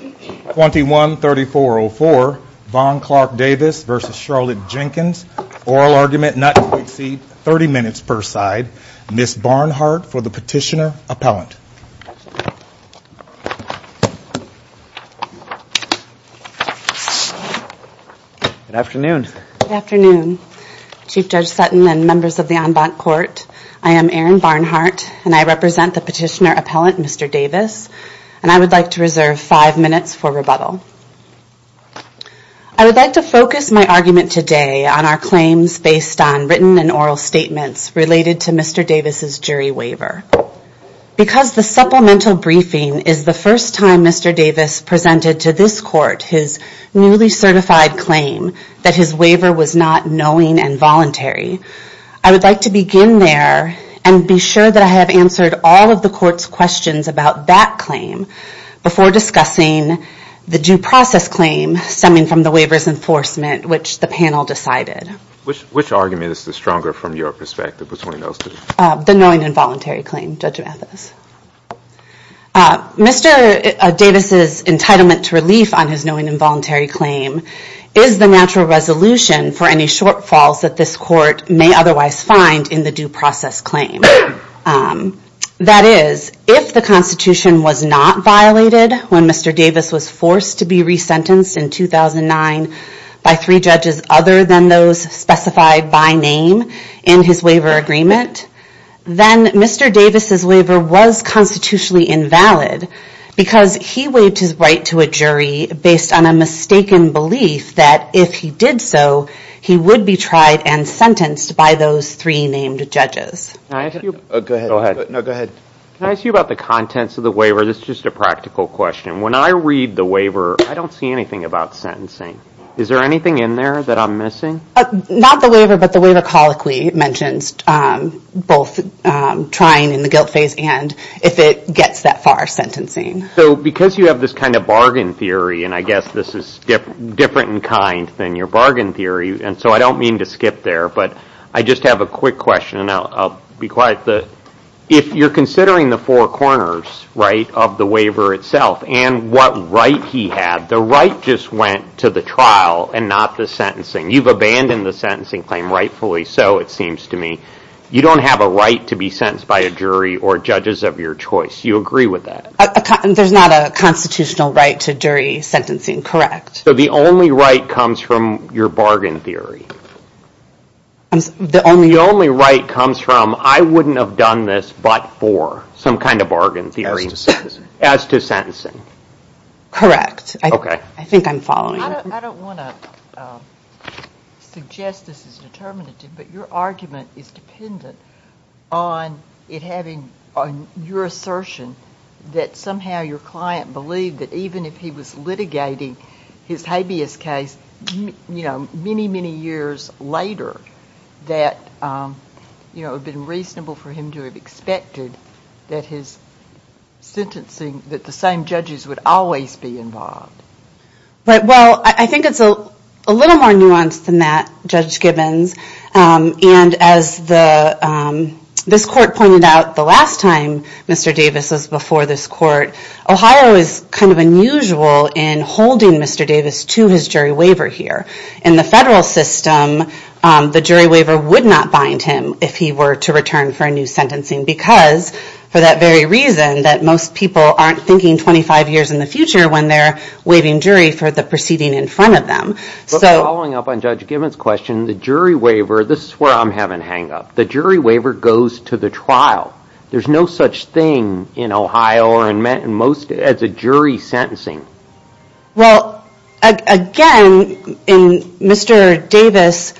21-3404 Von Clark Davis v. Charlotte Jenkins oral argument not to exceed 30 minutes per side. Ms. Barnhart for the petitioner appellant. Good afternoon. Good afternoon Chief Judge Sutton and members of the en banc court. I am Erin Barnhart and I represent the petitioner appellant Mr. Davis and I would like to reserve five minutes for rebuttal. I would like to focus my argument today on our claims based on written and oral statements related to Mr. Davis's jury waiver. Because the supplemental briefing is the first time Mr. Davis presented to this court his newly certified claim that his waiver was not knowing and voluntary, I would like to begin there and be sure that I answered all of the court's questions about that claim before discussing the due process claim stemming from the waiver's enforcement which the panel decided. Which argument is stronger from your perspective? The knowing and voluntary claim, Judge Mathis. Mr. Davis's entitlement to relief on his knowing and voluntary claim is the natural resolution for any shortfalls that this court may otherwise find in the due process claim. That is, if the Constitution was not violated when Mr. Davis was forced to be resentenced in 2009 by three judges other than those specified by name in his waiver agreement, then Mr. Davis's waiver was constitutionally invalid because he waived his right to a jury based on a mistaken belief that if he did so he would be tried and sentenced by those three named judges. Can I ask you about the contents of the waiver? This is just a practical question. When I read the waiver I don't see anything about sentencing. Is there anything in there that I'm missing? Not the waiver, but the waiver colloquially mentions both trying in the guilt phase and if it gets that far sentencing. So because you have this kind of bargain theory and I guess this is different in kind than your bargain theory and so I don't mean to skip there, but I just have a quick question and I'll be quiet. If you're considering the four corners of the waiver itself and what right he had, the right just went to the trial and not the sentencing. You've abandoned the sentencing claim rightfully so it seems to me. You don't have a right to be sentenced by a jury or judges of your choice. You agree with that? There's not a constitutional right to jury or a bargain theory. The only right comes from I wouldn't have done this but for some kind of bargain theory as to sentencing. Correct. Okay. I think I'm following. I don't want to suggest this is determinative, but your argument is dependent on it having on your assertion that somehow your client believed that even if he was litigating his habeas case, you know, many many years later that you know it would have been reasonable for him to have expected that his sentencing that the same judges would always be involved. Right well I think it's a little more nuanced than that Judge Gibbons and as the this court pointed out the last time Mr. Davis was before this court, Ohio is kind of unusual in holding Mr. Davis to his jury waiver here. In the federal system, the jury waiver would not bind him if he were to return for a new sentencing because for that very reason that most people aren't thinking 25 years in the future when they're waiving jury for the proceeding in front of them. Following up on Judge Gibbons question, the jury waiver, this is where I'm having hang up. The jury waiver goes to the trial. There's no such thing in Ohio or in most as a jury sentencing. Well again, Mr. Davis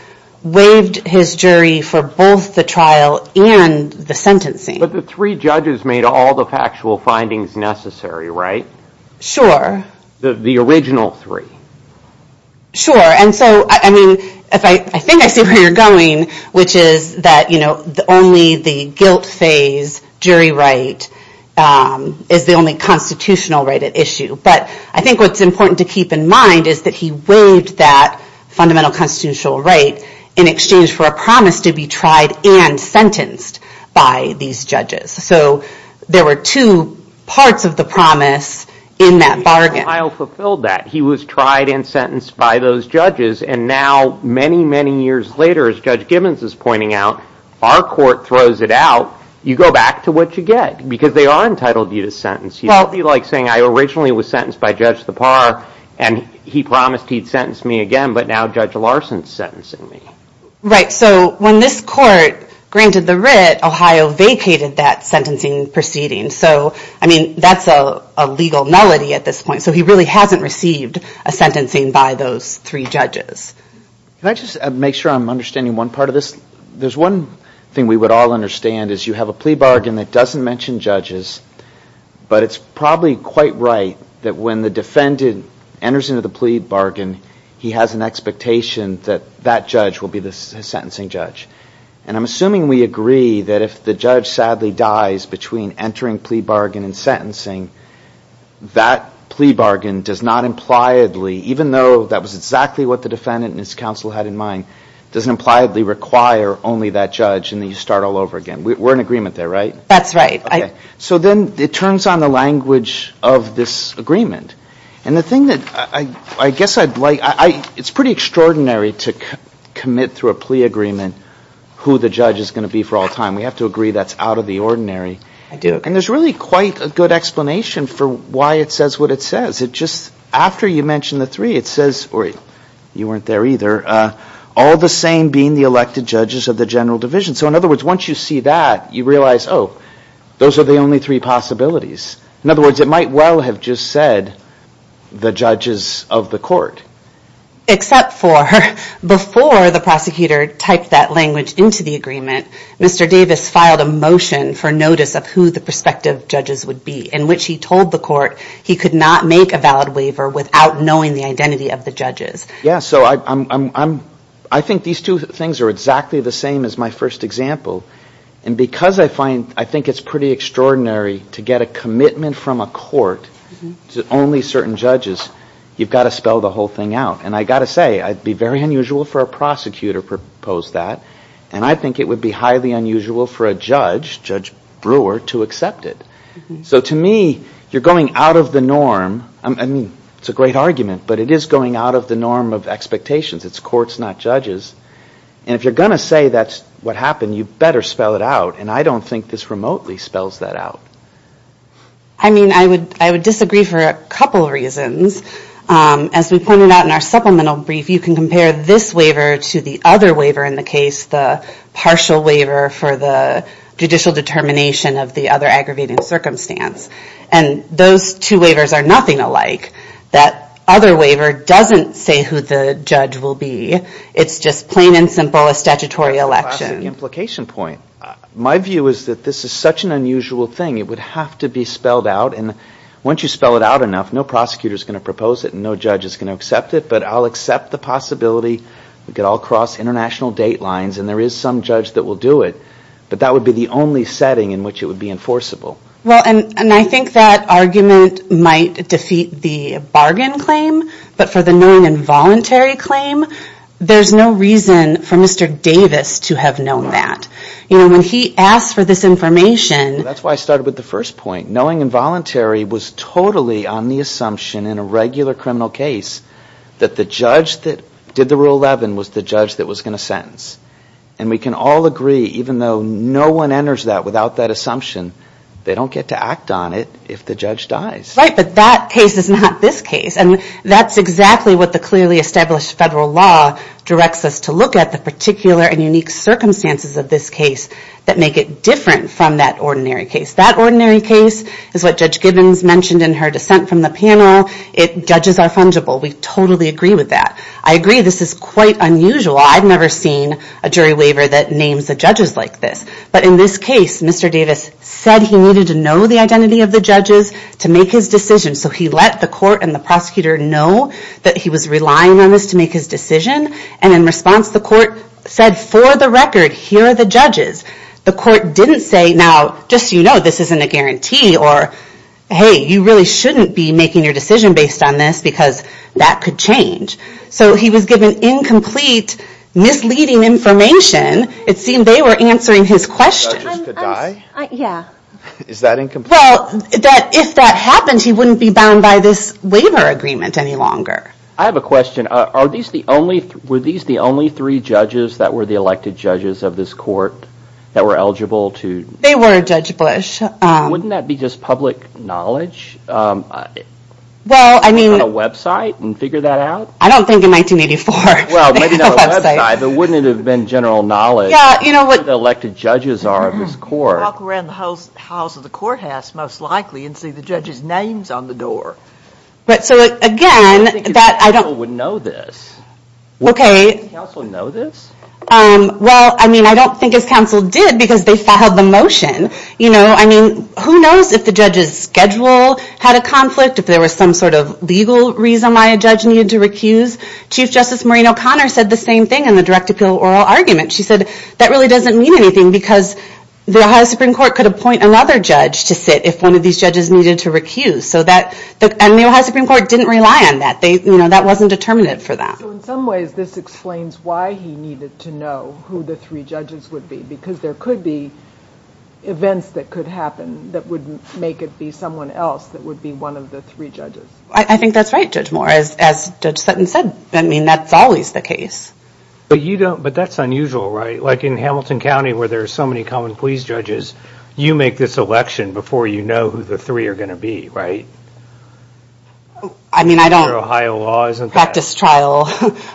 waived his jury for both the trial and the sentencing. But the three judges made all the factual findings necessary, right? Sure. The original three. Sure and so I mean, I think I see where you're going, which is that you know only the guilt phase jury right is the only constitutional right at issue. But I think what's important to keep in mind is that he waived that fundamental constitutional right in exchange for a promise to be tried and sentenced by these judges. So there were two parts of the promise in that bargain. Ohio fulfilled that. He was tried and sentenced by those judges and now many, many years later, as Judge Gibbons is pointing out, our court throws it out. You go back to what you get because they are entitled you to sentence. It would be like saying I originally was sentenced by Judge Thapar and he promised he'd sentence me again but now Judge Larson is sentencing me. Right, so when this court granted the writ, Ohio vacated that sentencing proceeding. So I mean, that's a legal nullity at this point. So he really hasn't received a sentencing by those three judges. Can I just make sure I'm understanding one part of this? There's one thing we would all understand is you have a plea bargain that doesn't mention judges but it's probably quite right that when the defendant enters into the plea bargain, he has an expectation that that judge will be the sentencing judge. And I'm assuming we agree that if the judge sadly dies between entering plea bargain and sentencing, that plea bargain does not impliedly, even though that was exactly what the defendant and his counsel had in mind, doesn't impliedly require only that judge and then you start all over again. We're in agreement there, right? That's right. So then it turns on the language of this agreement. And the thing that I guess I'd like, it's pretty extraordinary to commit through a plea agreement who the judge is going to be for all time. We have to agree that's out of the ordinary. And there's really quite a good explanation for why it says what it says. It just, after you mention the three, it says, or you weren't there either, all the same being the elected judges of the general division. So in other words, once you see that, you realize, oh, those are the only three possibilities. In other words, it might well have just said the judges of the court. Except for before the prosecutor typed that language into the agreement, Mr. Davis filed a motion for notice of who the prospective judges would be, in which he told the court he could not make a valid waiver without knowing the identity of the judges. Yeah, so I think these two things are exactly the same as my first example. And because I find, I think it's pretty extraordinary to get a commitment from a court to only certain judges, you've got to spell the whole thing out. And I've got to say, it would be very unusual for a prosecutor to propose that. And I think it would be highly unusual for a judge, Judge Brewer, to accept it. So to me, you're going out of the norm. I mean, it's a great argument, but it is going out of the norm of expectations. It's courts, not judges. And if you're going to say that's what happened, you better spell it out. And I don't think this remotely spells that out. I mean, I would disagree for a couple reasons. As we pointed out in our supplemental brief, you can compare this waiver to the other waiver in the case, the partial waiver for the judicial determination of the other aggravating circumstance. And those two waivers are nothing alike. That other waiver doesn't say who the judge will be. It's just plain and simple, a statutory election. My view is that this is such an unusual thing. It would have to be spelled out. And once you spell it out enough, no prosecutor is going to propose it, and no judge is going to accept it. But I'll accept the possibility. We could all cross international date lines, and there is some judge that will do it. But that would be the only setting in which it would be enforceable. Well, and I think that argument might defeat the bargain claim, but for the knowing and voluntary claim, there's no reason for Mr. Davis to have known that. You know, when he asked for this information... knowing and voluntary was totally on the assumption in a regular criminal case that the judge that did the Rule 11 was the judge that was going to sentence. And we can all agree, even though no one enters that without that assumption, they don't get to act on it if the judge dies. Right, but that case is not this case. And that's exactly what the clearly established federal law directs us to look at, the particular and unique circumstances of this case that make it different from that ordinary case. That ordinary case is what Judge Gibbons mentioned in her dissent from the panel. Judges are fungible. We totally agree with that. I agree this is quite unusual. I've never seen a jury waiver that names the judges like this. But in this case, Mr. Davis said he needed to know the identity of the judges to make his decision. So he let the court and the prosecutor know that he was relying on this to make his decision. And in response, the court said, for the record, here are the judges. The court didn't say, now, just so you know, this isn't a guarantee, or, hey, you really shouldn't be making your decision based on this because that could change. So he was given incomplete, misleading information. It seemed they were answering his questions. Judges could die? Yeah. Is that incomplete? Well, if that happened, he wouldn't be bound by this waiver agreement any longer. I have a question. Were these the only three judges that were the elected judges of this court that were eligible to? They were, Judge Bush. Wouldn't that be just public knowledge? Well, I mean. On a website and figure that out? I don't think in 1984. Well, maybe not a website, but wouldn't it have been general knowledge? Yeah, you know what. What the elected judges are of this court. Walk around the house of the courthouse, most likely, and see the judges' names on the door. But so, again, that I don't. I don't think his counsel would know this. Okay. Would any counsel know this? Well, I mean, I don't think his counsel did because they filed the motion. I mean, who knows if the judge's schedule had a conflict, if there was some sort of legal reason why a judge needed to recuse. Chief Justice Maureen O'Connor said the same thing in the direct appeal oral argument. She said that really doesn't mean anything because the Ohio Supreme Court could appoint another judge to sit if one of these judges needed to recuse. And the Ohio Supreme Court didn't rely on that. That wasn't determinative for them. So in some ways, this explains why he needed to know who the three judges would be, because there could be events that could happen that would make it be someone else that would be one of the three judges. I think that's right, Judge Moore, as Judge Sutton said. I mean, that's always the case. But you don't. But that's unusual, right? Like in Hamilton County, where there are so many common pleas judges, you make this election before you know who the three are going to be, right? I mean, I don't. Practice trial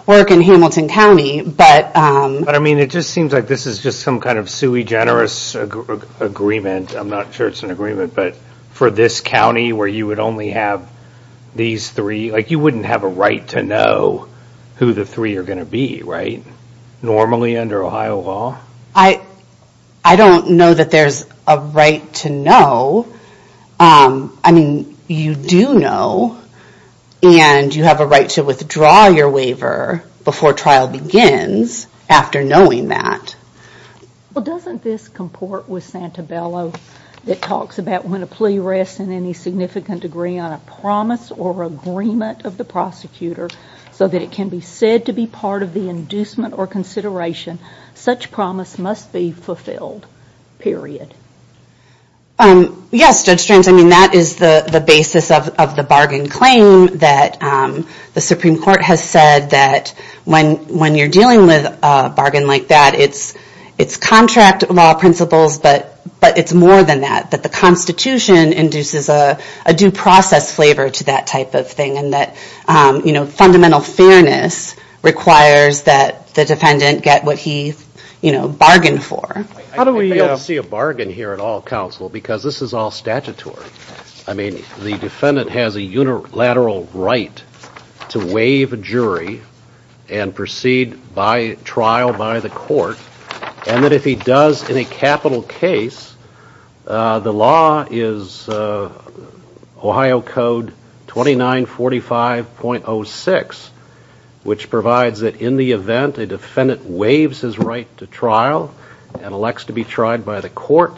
work in Hamilton County. But I mean, it just seems like this is just some kind of sui generis agreement. I'm not sure it's an agreement. But for this county where you would only have these three, like you wouldn't have a right to know who the three are going to be, right? Normally under Ohio law. I don't know that there's a right to know. I mean, you do know, and you have a right to withdraw your waiver before trial begins after knowing that. Well, doesn't this comport with Santabello that talks about when a plea rests in any significant degree on a promise or agreement of the prosecutor so that it can be said to be part of the inducement or consideration, such promise must be fulfilled, period. Yes, Judge Strands. I mean, that is the basis of the bargain claim that the Supreme Court has said that when you're dealing with a bargain like that, it's contract law principles, but it's more than that, that the Constitution induces a due process flavor to that type of thing and that fundamental fairness requires that the defendant get what he bargained for. I don't see a bargain here at all, counsel, because this is all statutory. I mean, the defendant has a unilateral right to waive a jury and proceed by trial by the court, and that if he does in a capital case, the law is Ohio Code 2945.06, which provides that in the event a defendant waives his right to trial and elects to be tried by the court,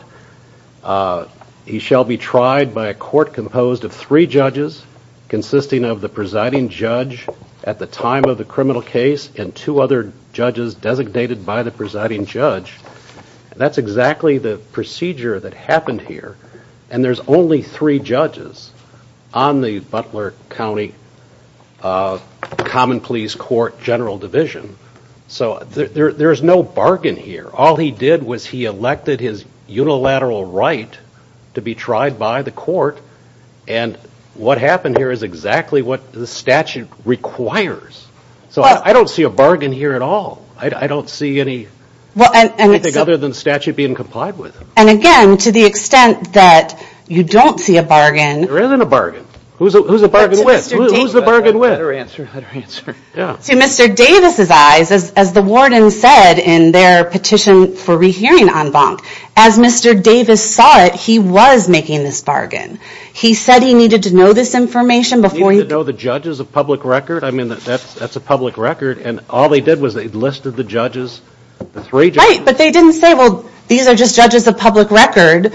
he shall be tried by a court composed of three judges consisting of the presiding judge at the time of the criminal case and two other judges designated by the presiding judge. That's exactly the procedure that happened here, and there's only three judges on the Butler County Common Pleas Court General Division. So there's no bargain here. All he did was he elected his unilateral right to be tried by the court, and what happened here is exactly what the statute requires. So I don't see a bargain here at all. I don't see anything other than the statute being complied with. And again, to the extent that you don't see a bargain... There isn't a bargain. Who's the bargain with? Let her answer. Let her answer. To Mr. Davis's eyes, as the warden said in their petition for rehearing en banc, as Mr. Davis saw it, he was making this bargain. He said he needed to know this information before he... Did he know the judges of public record? I mean, that's a public record, and all they did was they listed the judges, the three judges. Right, but they didn't say, well, these are just judges of public record.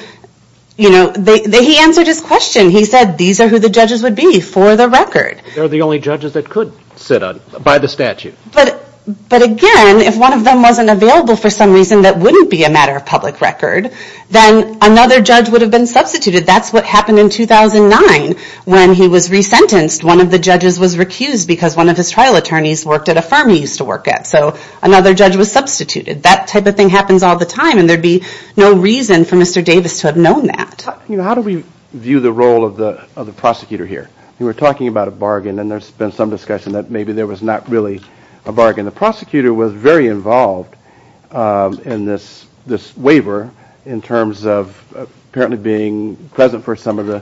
He answered his question. He said these are who the judges would be for the record. They're the only judges that could sit by the statute. But again, if one of them wasn't available for some reason that wouldn't be a matter of public record, then another judge would have been substituted. That's what happened in 2009 when he was resentenced. One of the judges was recused because one of his trial attorneys worked at a firm he used to work at. So another judge was substituted. That type of thing happens all the time, and there'd be no reason for Mr. Davis to have known that. How do we view the role of the prosecutor here? We were talking about a bargain, and there's been some discussion that maybe there was not really a bargain. The prosecutor was very involved in this waiver in terms of apparently being present for some of the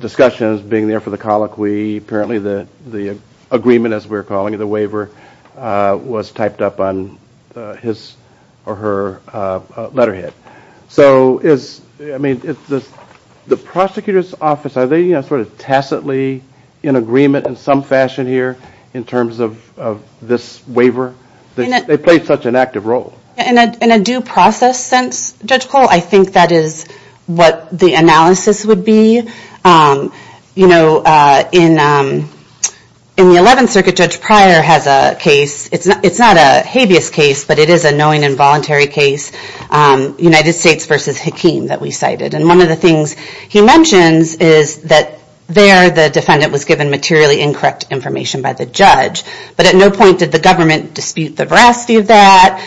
discussions, being there for the colloquy. Apparently the agreement, as we were calling it, the waiver, was typed up on his or her letterhead. The prosecutor's office, are they sort of tacitly in agreement in some fashion here in terms of this waiver? They played such an active role. In a due process sense, Judge Cole, I think that is what the analysis would be. In the 11th Circuit, Judge Pryor has a case. It's not a habeas case, but it is a knowing involuntary case. United States v. Hakeem that we cited. One of the things he mentions is that there the defendant was given materially incorrect information by the judge, but at no point did the government dispute the veracity of that.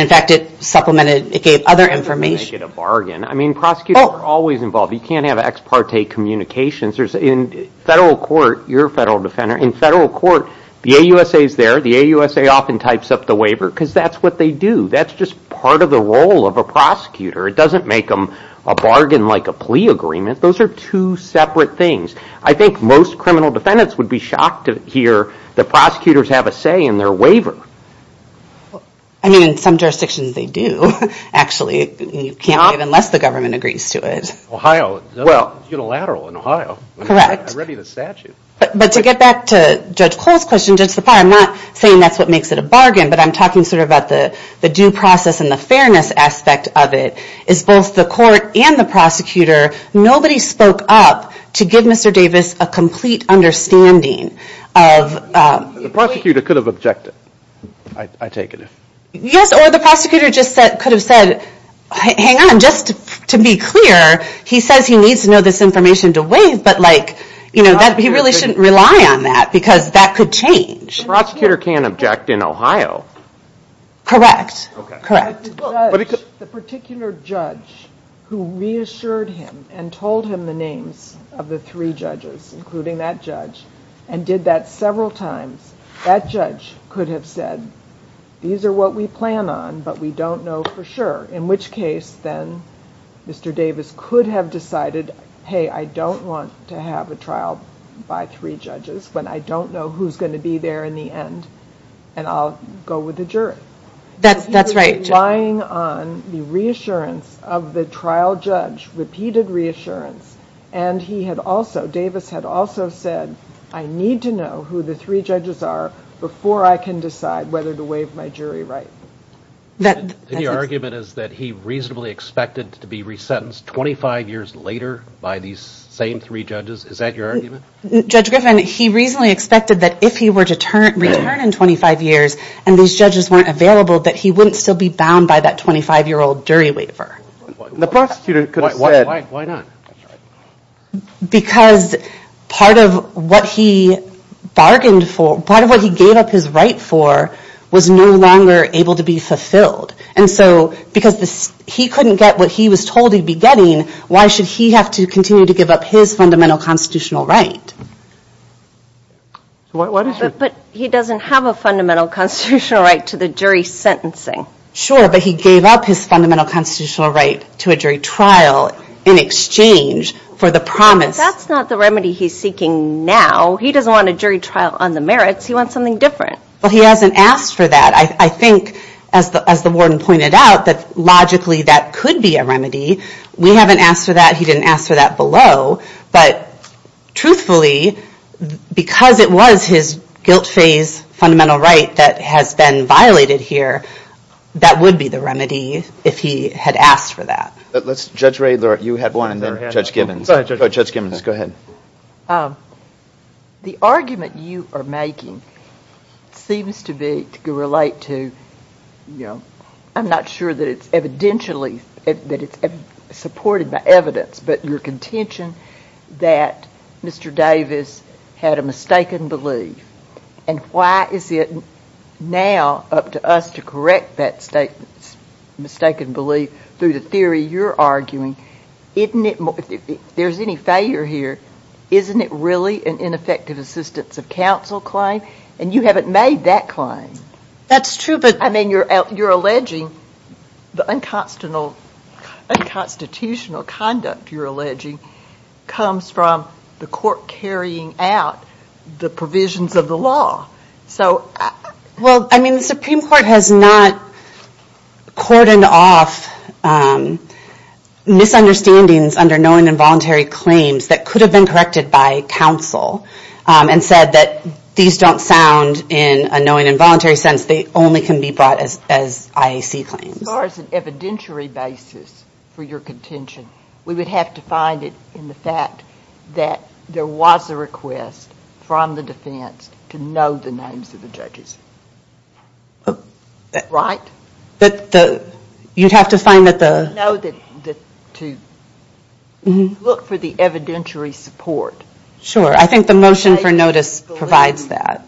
In fact, it supplemented, it gave other information. You can't make it a bargain. Prosecutors are always involved. You can't have ex parte communications. In federal court, you're a federal defender. In federal court, the AUSA is there. The AUSA often types up the waiver because that's what they do. That's just part of the role of a prosecutor. It doesn't make them a bargain like a plea agreement. Those are two separate things. I think most criminal defendants would be shocked to hear that prosecutors have a say in their waiver. I mean, in some jurisdictions, they do. Actually, you can't unless the government agrees to it. Ohio, unilateral in Ohio. Correct. I read you the statute. But to get back to Judge Cole's question, Judge Pryor, I'm not saying that's what makes it a bargain, but I'm talking sort of about the due process and the fairness aspect of it, is both the court and the prosecutor, nobody spoke up to give Mr. Davis a complete understanding of... The prosecutor could have objected, I take it. Yes, or the prosecutor just could have said, hang on, just to be clear, he says he needs to know this information to waive, but like, you know, he really shouldn't rely on that because that could change. The prosecutor can object in Ohio. Correct. Correct. The particular judge who reassured him and told him the names of the three judges, including that judge, and did that several times, that judge could have said, these are what we plan on, but we don't know for sure, in which case then Mr. Davis could have decided, hey, I don't want to have a trial by three judges when I don't know who's going to be there in the end, and I'll go with the jury. That's right. He was relying on the reassurance of the trial judge, repeated reassurance, and he had also, Davis had also said, I need to know who the three judges are before I can decide whether to waive my jury right. And your argument is that he reasonably expected to be resentenced 25 years later by these same three judges? Is that your argument? Judge Griffin, he reasonably expected that if he were to return in 25 years and these judges weren't available, that he wouldn't still be bound by that 25-year-old jury waiver. The prosecutor could have said. Why not? Because part of what he bargained for, part of what he gave up his right for, was no longer able to be fulfilled. And so because he couldn't get what he was told he'd be getting, why should he have to continue to give up his fundamental constitutional right? But he doesn't have a fundamental constitutional right to the jury sentencing. Sure, but he gave up his fundamental constitutional right to a jury trial in exchange for the promise. That's not the remedy he's seeking now. He doesn't want a jury trial on the merits. He wants something different. Well, he hasn't asked for that. I think, as the warden pointed out, that logically that could be a remedy. We haven't asked for that. He didn't ask for that below. But truthfully, because it was his guilt phase fundamental right that has been violated here, that would be the remedy if he had asked for that. Judge Ray, you had one, and then Judge Gibbons. Go ahead, Judge. Judge Gibbons, go ahead. The argument you are making seems to relate to, you know, I'm not sure that it's evidentially supported by evidence, but your contention that Mr. Davis had a mistaken belief. And why is it now up to us to correct that mistaken belief through the theory you're arguing? If there's any failure here, isn't it really an ineffective assistance of counsel claim? And you haven't made that claim. That's true. I mean, you're alleging the unconstitutional conduct you're alleging comes from the court carrying out the provisions of the law. Well, I mean, the Supreme Court has not cordoned off misunderstandings under knowing involuntary claims that could have been corrected by counsel and said that these don't sound in a knowing involuntary sense. They only can be brought as IAC claims. As far as an evidentiary basis for your contention, we would have to find it in the fact that there was a request from the defense to know the names of the judges. But you'd have to find that the. No, to look for the evidentiary support. Sure. I think the motion for notice provides that.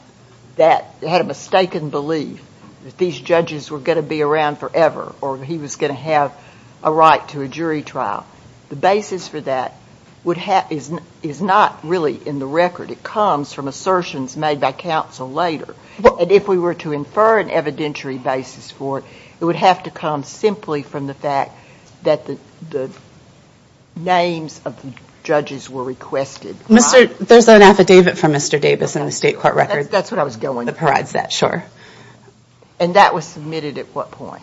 That had a mistaken belief that these judges were going to be around forever or he was going to have a right to a jury trial. The basis for that would have is not really in the record. It comes from assertions made by counsel later. And if we were to infer an evidentiary basis for it, it would have to come simply from the fact that the names of the judges were requested. Mr. There's an affidavit from Mr. Davis in the state court record. That's what I was going to provide that. Sure. And that was submitted at what point?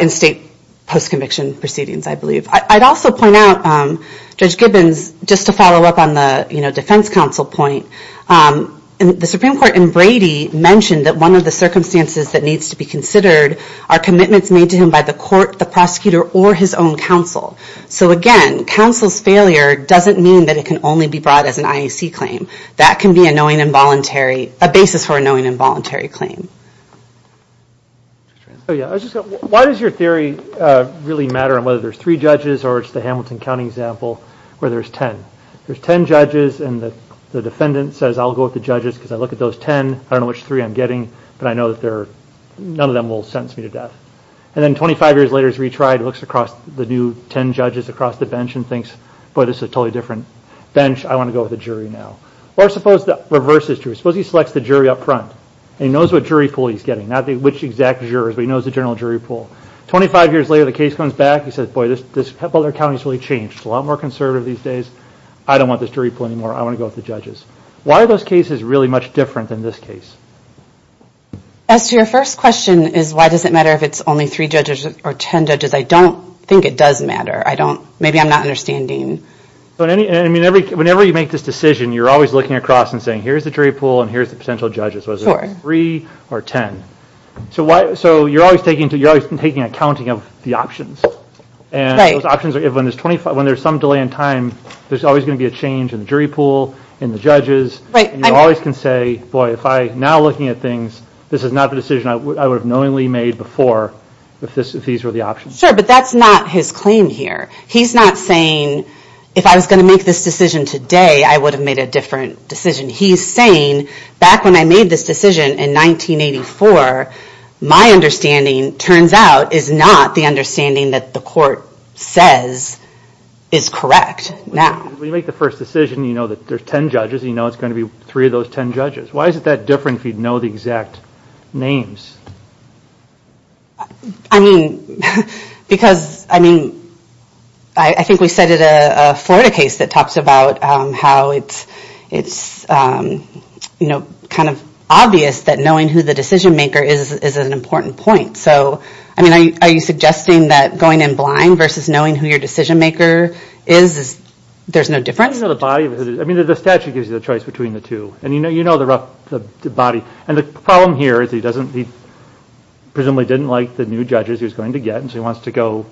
In state post-conviction proceedings, I believe. I'd also point out, Judge Gibbons, just to follow up on the defense counsel point, the Supreme Court in Brady mentioned that one of the circumstances that needs to be considered are commitments made to him by the court, the prosecutor or his own counsel. So, again, counsel's failure doesn't mean that it can only be brought as an IAC claim. That can be a knowing involuntary, a basis for a knowing involuntary claim. Oh, yeah. Why does your theory really matter on whether there's three judges or it's the Hamilton County example where there's ten? There's ten judges and the defendant says, I'll go with the judges because I look at those ten. I don't know which three I'm getting, but I know that none of them will sentence me to death. And then 25 years later, he's retried, looks across the new ten judges across the bench and thinks, boy, this is a totally different bench. I want to go with the jury now. Or suppose the reverse is true. Suppose he selects the jury up front and he knows what jury pool he's getting, not which exact jurors, but he knows the general jury pool. Twenty-five years later, the case comes back. He says, boy, this other county's really changed. It's a lot more conservative these days. I don't want this jury pool anymore. I want to go with the judges. Why are those cases really much different than this case? As to your first question, is why does it matter if it's only three judges or ten judges, I don't think it does matter. Maybe I'm not understanding. Whenever you make this decision, you're always looking across and saying, here's the jury pool and here's the potential judges. Was it three or ten? So you're always taking accounting of the options. And those options, when there's some delay in time, there's always going to be a change in the jury pool, in the judges. And you always can say, boy, if I'm now looking at things, this is not the decision I would have knowingly made before if these were the options. Sure, but that's not his claim here. He's not saying, if I was going to make this decision today, I would have made a different decision. He's saying, back when I made this decision in 1984, my understanding, turns out, is not the understanding that the court says is correct now. When you make the first decision, you know that there's ten judges. You know it's going to be three of those ten judges. Why is it that different if you know the exact names? I mean, because, I mean, I think we cited a Florida case that talks about how it's, you know, kind of obvious that knowing who the decision maker is an important point. So, I mean, are you suggesting that going in blind versus knowing who your decision maker is, there's no difference? I mean, the statute gives you the choice between the two. And you know the body. And the problem here is he doesn't, he presumably didn't like the new judges he was going to get, and so he wants to go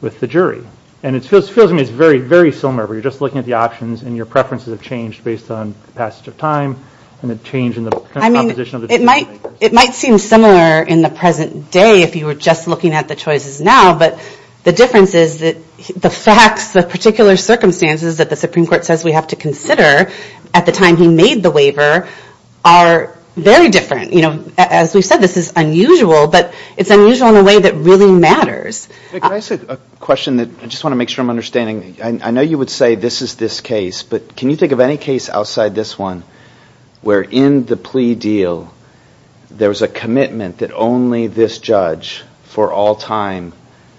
with the jury. And it feels to me it's very similar where you're just looking at the options and your preferences have changed based on passage of time and the change in the composition of the decision makers. It might seem similar in the present day if you were just looking at the choices now. But the difference is that the facts, the particular circumstances that the Supreme Court says we have to consider at the time he made the waiver are very different. You know, as we said, this is unusual, but it's unusual in a way that really matters. Can I ask a question that I just want to make sure I'm understanding? I know you would say this is this case, but can you think of any case outside this one where in the plea deal there was a commitment that only this judge for all time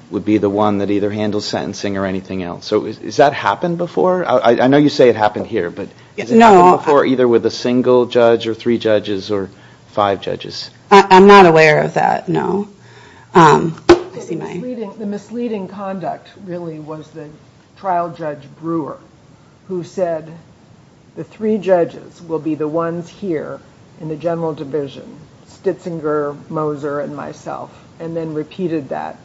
would be the one that either handles sentencing or anything else? So has that happened before? I know you say it happened here, but has it happened before either with a single judge or three judges or five judges? I'm not aware of that, no. The misleading conduct really was the trial judge Brewer who said the three judges will be the ones here in the general division, Stitzinger, Moser, and myself, and then repeated that.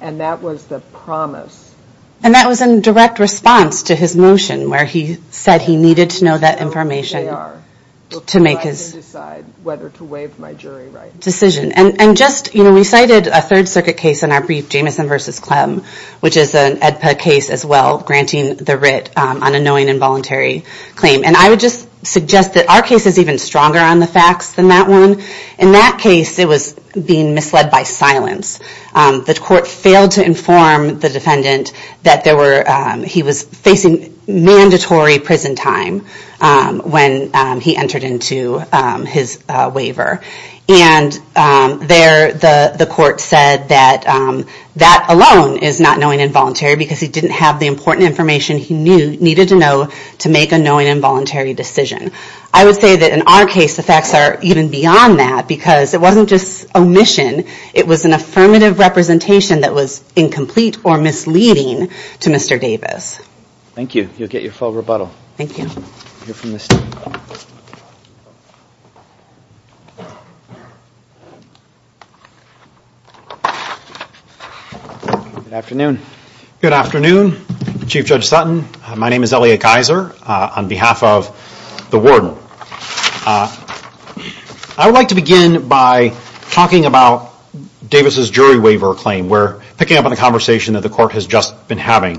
And that was the promise. And that was in direct response to his motion where he said he needed to know that information to make his decision. And just, you know, we cited a Third Circuit case in our brief, Jamison v. Clem, which is an AEDPA case as well, granting the writ on a knowing involuntary claim. And I would just suggest that our case is even stronger on the facts than that one. In that case, it was being misled by silence. The court failed to inform the defendant that he was facing mandatory prison time when he entered into his waiver. And there, the court said that that alone is not knowing involuntary because he didn't have the important information he needed to know to make a knowing involuntary decision. I would say that in our case, the facts are even beyond that because it wasn't just omission. It was an affirmative representation that was incomplete or misleading to Mr. Davis. Thank you. You'll get your full rebuttal. Thank you. Good afternoon. Good afternoon, Chief Judge Sutton. My name is Elliot Geiser on behalf of the warden. I would like to begin by talking about Davis's jury waiver claim. We're picking up on the conversation that the court has just been having.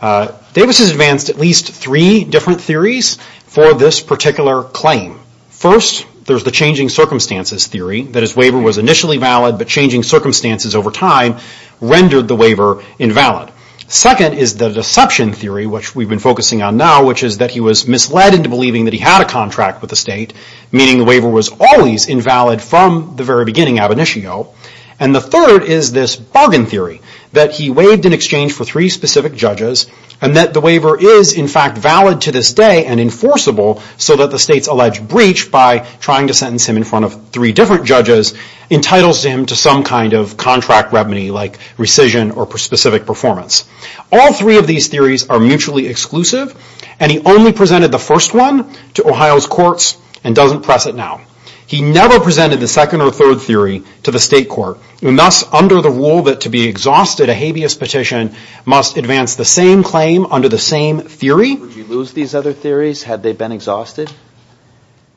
Davis has advanced at least three different theories for this particular claim. First, there's the changing circumstances theory that his waiver was initially valid but changing circumstances over time rendered the waiver invalid. Second is the deception theory, which we've been focusing on now, which is that he was misled into believing that he had a contract with the state, meaning the waiver was always invalid from the very beginning, ab initio. And the third is this bargain theory that he waived in exchange for three specific judges and that the waiver is, in fact, valid to this day and enforceable so that the state's alleged breach, by trying to sentence him in front of three different judges, entitles him to some kind of contract remedy like rescission or specific performance. All three of these theories are mutually exclusive, and he only presented the first one to Ohio's courts and doesn't press it now. He never presented the second or third theory to the state court. And thus, under the rule that to be exhausted, a habeas petition must advance the same claim under the same theory? Would you lose these other theories had they been exhausted?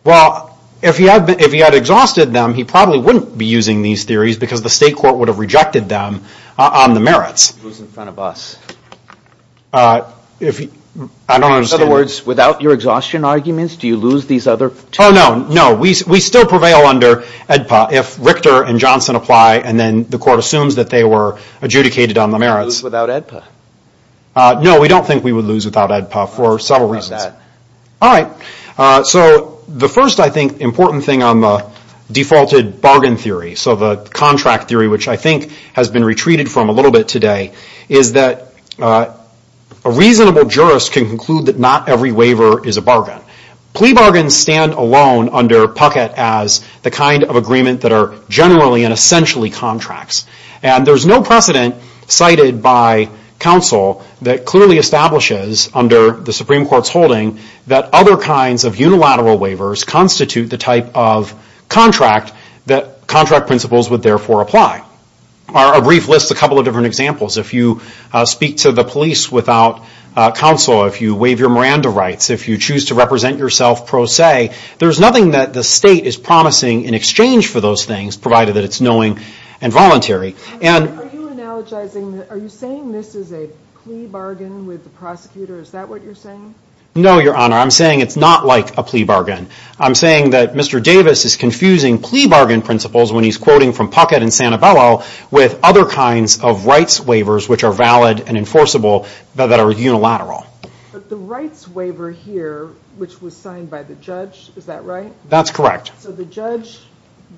Well, if he had exhausted them, he probably wouldn't be using these theories because the state court would have rejected them on the merits. Who's in front of us? I don't understand. In other words, without your exhaustion arguments, do you lose these other theories? Oh, no, no. We still prevail under AEDPA if Richter and Johnson apply and then the court assumes that they were adjudicated on the merits. Would you lose without AEDPA? No, we don't think we would lose without AEDPA for several reasons. All right. So the first, I think, important thing on the defaulted bargain theory, so the contract theory, which I think has been retreated from a little bit today, is that a reasonable jurist can conclude that not every waiver is a bargain. Plea bargains stand alone under Puckett as the kind of agreement that are generally and essentially contracts. And there's no precedent cited by counsel that clearly establishes under the Supreme Court's holding that other kinds of unilateral waivers constitute the type of contract that contract principles would therefore apply. Our brief lists a couple of different examples. If you speak to the police without counsel, if you waive your Miranda rights, if you choose to represent yourself pro se, there's nothing that the state is promising in exchange for those things, provided that it's knowing and voluntary. Are you saying this is a plea bargain with the prosecutor? Is that what you're saying? No, Your Honor. I'm saying it's not like a plea bargain. I'm saying that Mr. Davis is confusing plea bargain principles, when he's quoting from Puckett and Sanabella, with other kinds of rights waivers, which are valid and enforceable, that are unilateral. But the rights waiver here, which was signed by the judge, is that right? That's correct. So the judge,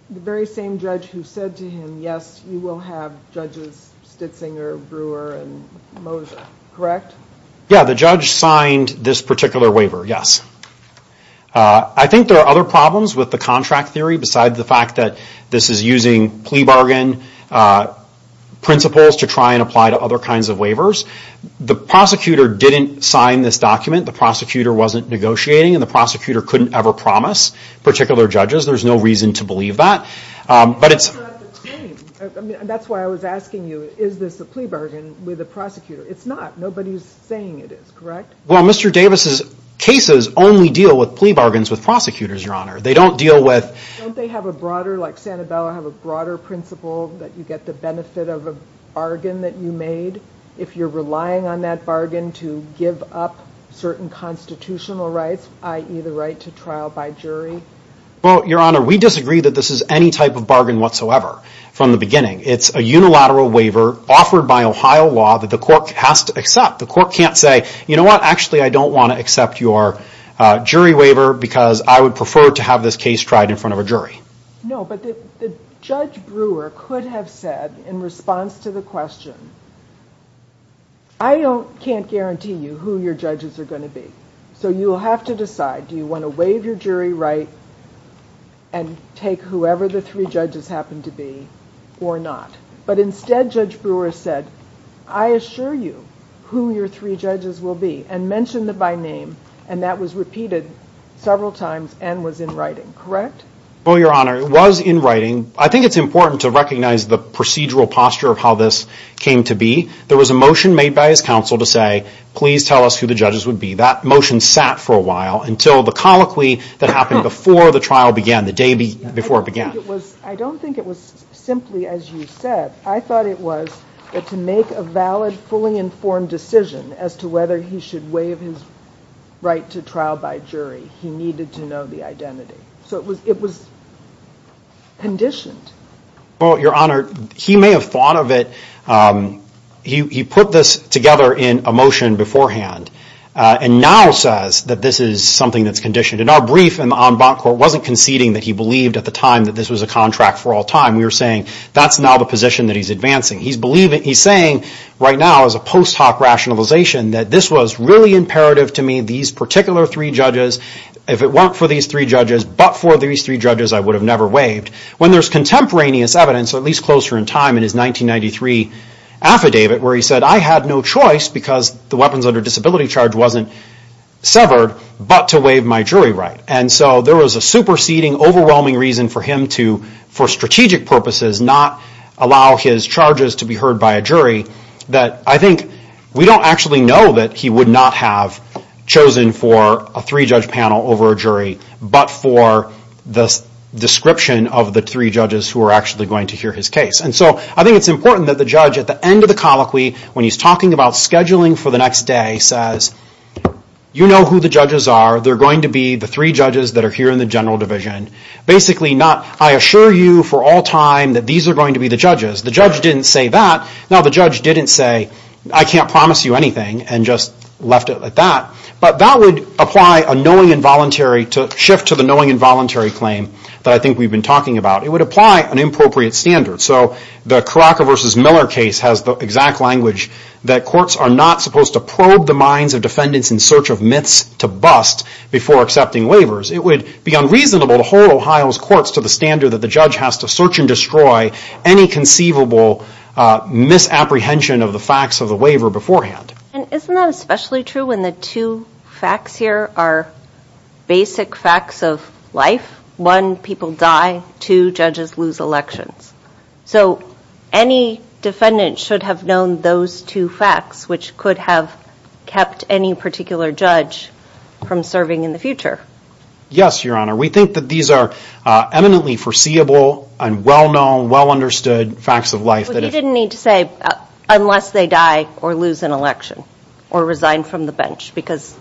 the very same judge who said to him, yes, you will have judges Stitzinger, Brewer, and Moser, correct? Yeah, the judge signed this particular waiver, yes. I think there are other problems with the contract theory, besides the fact that this is using plea bargain principles to try and apply to other kinds of waivers. The prosecutor didn't sign this document. The prosecutor wasn't negotiating, and the prosecutor couldn't ever promise particular judges. There's no reason to believe that. But it's… That's why I was asking you, is this a plea bargain with the prosecutor? It's not. Nobody's saying it is, correct? Well, Mr. Davis's cases only deal with plea bargains with prosecutors, Your Honor. They don't deal with… Don't they have a broader, like Sanabella, have a broader principle that you get the benefit of a bargain that you made if you're relying on that bargain to give up certain constitutional rights, i.e. the right to trial by jury? Well, Your Honor, we disagree that this is any type of bargain whatsoever from the beginning. It's a unilateral waiver offered by Ohio law that the court has to accept. The court can't say, you know what, actually I don't want to accept your jury waiver because I would prefer to have this case tried in front of a jury. No, but Judge Brewer could have said in response to the question, I can't guarantee you who your judges are going to be, so you'll have to decide. Do you want to waive your jury right and take whoever the three judges happen to be or not? But instead, Judge Brewer said, I assure you who your three judges will be and mentioned it by name and that was repeated several times and was in writing, correct? Well, Your Honor, it was in writing. I think it's important to recognize the procedural posture of how this came to be. There was a motion made by his counsel to say, please tell us who the judges would be. That motion sat for a while until the colloquy that happened before the trial began, the day before it began. I don't think it was simply as you said. I thought it was that to make a valid, fully informed decision as to whether he should waive his right to trial by jury, he needed to know the identity. So it was conditioned. Well, Your Honor, he may have thought of it, he put this together in a motion beforehand and now says that this is something that's conditioned. In our brief, the en banc court wasn't conceding that he believed at the time that this was a contract for all time. We were saying that's now the position that he's advancing. He's saying right now as a post hoc rationalization that this was really imperative to me, these particular three judges, if it weren't for these three judges, but for these three judges, I would have never waived. When there's contemporaneous evidence, at least closer in time in his 1993 affidavit where he said I had no choice because the weapons under disability charge wasn't severed but to waive my jury right. And so there was a superseding, overwhelming reason for him to, for strategic purposes, not allow his charges to be heard by a jury that I think we don't actually know that he would not have chosen for a three-judge panel over a jury, but for the description of the three judges who are actually going to hear his case. And so I think it's important that the judge at the end of the colloquy, when he's talking about scheduling for the next day, says you know who the judges are. They're going to be the three judges that are here in the general division. Basically not I assure you for all time that these are going to be the judges. The judge didn't say that. Now the judge didn't say I can't promise you anything and just left it at that. But that would apply a knowing and voluntary to shift to the knowing and voluntary claim that I think we've been talking about. It would apply an appropriate standard. So the Caraca v. Miller case has the exact language that courts are not supposed to probe the minds of defendants in search of myths to bust before accepting waivers. It would be unreasonable to hold Ohio's courts to the standard that the judge has to search and destroy any conceivable misapprehension of the facts of the waiver beforehand. And isn't that especially true when the two facts here are basic facts of life? One, people die. Two, judges lose elections. So any defendant should have known those two facts, which could have kept any particular judge from serving in the future. Yes, Your Honor. We think that these are eminently foreseeable and well-known, well-understood facts of life. But he didn't need to say unless they die or lose an election or resign from the bench because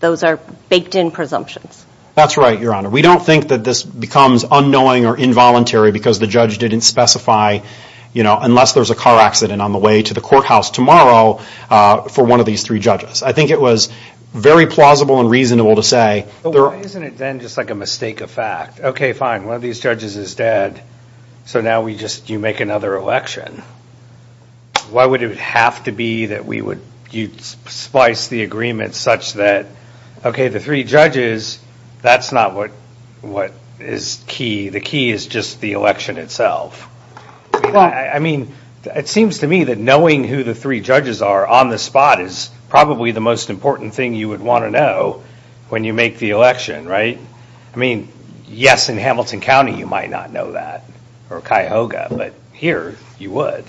those are baked in presumptions. That's right, Your Honor. We don't think that this becomes unknowing or involuntary because the judge didn't specify, you know, unless there's a car accident on the way to the courthouse tomorrow for one of these three judges. I think it was very plausible and reasonable to say. But why isn't it then just like a mistake of fact? Okay, fine, one of these judges is dead, so now we just make another election. Why would it have to be that we would splice the agreement such that, okay, the three judges, that's not what is key. The key is just the election itself. I mean, it seems to me that knowing who the three judges are on the spot is probably the most important thing you would want to know when you make the election, right? I mean, yes, in Hamilton County you might not know that or Cuyahoga, but here you would.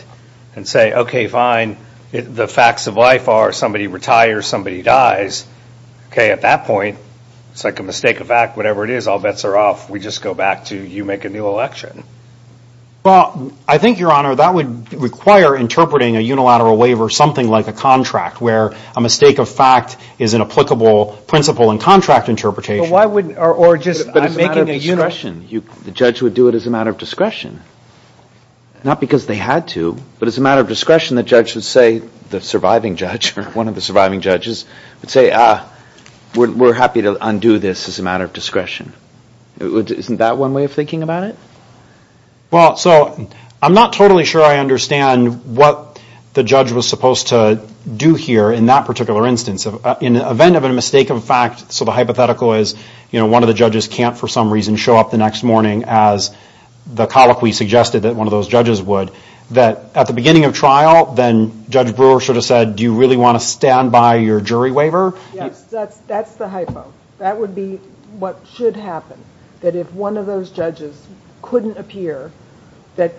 And say, okay, fine, the facts of life are somebody retires, somebody dies. Okay, at that point, it's like a mistake of fact, whatever it is, all bets are off. We just go back to you make a new election. Well, I think, Your Honor, that would require interpreting a unilateral waiver, something like a contract where a mistake of fact is an applicable principle in contract interpretation. But why wouldn't, or just making a unilateral? It's a matter of discretion. The judge would do it as a matter of discretion, not because they had to, but as a matter of discretion the judge would say, the surviving judge or one of the surviving judges, would say, ah, we're happy to undo this as a matter of discretion. Isn't that one way of thinking about it? Well, so I'm not totally sure I understand what the judge was supposed to do here in that particular instance. In the event of a mistake of fact, so the hypothetical is, you know, one of the judges can't for some reason show up the next morning as the colloquy suggested that one of those judges would, that at the beginning of trial then Judge Brewer should have said, do you really want to stand by your jury waiver? Yes, that's the hypo. That would be what should happen, that if one of those judges couldn't appear, that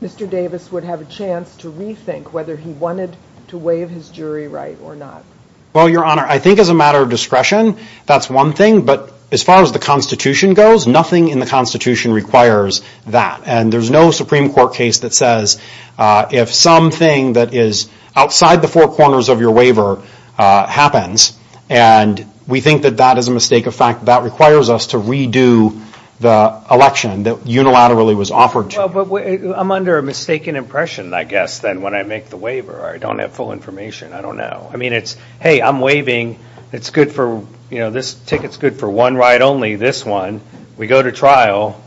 Mr. Davis would have a chance to rethink whether he wanted to waive his jury right or not. Well, Your Honor, I think as a matter of discretion, that's one thing, but as far as the Constitution goes, nothing in the Constitution requires that. And there's no Supreme Court case that says if something that is outside the four corners of your waiver happens, and we think that that is a mistake of fact, that requires us to redo the election that unilaterally was offered to you. Well, but I'm under a mistaken impression, I guess, then when I make the waiver. I don't have full information. I don't know. I mean, it's, hey, I'm waiving. It's good for, you know, this ticket's good for one right only, this one. We go to trial,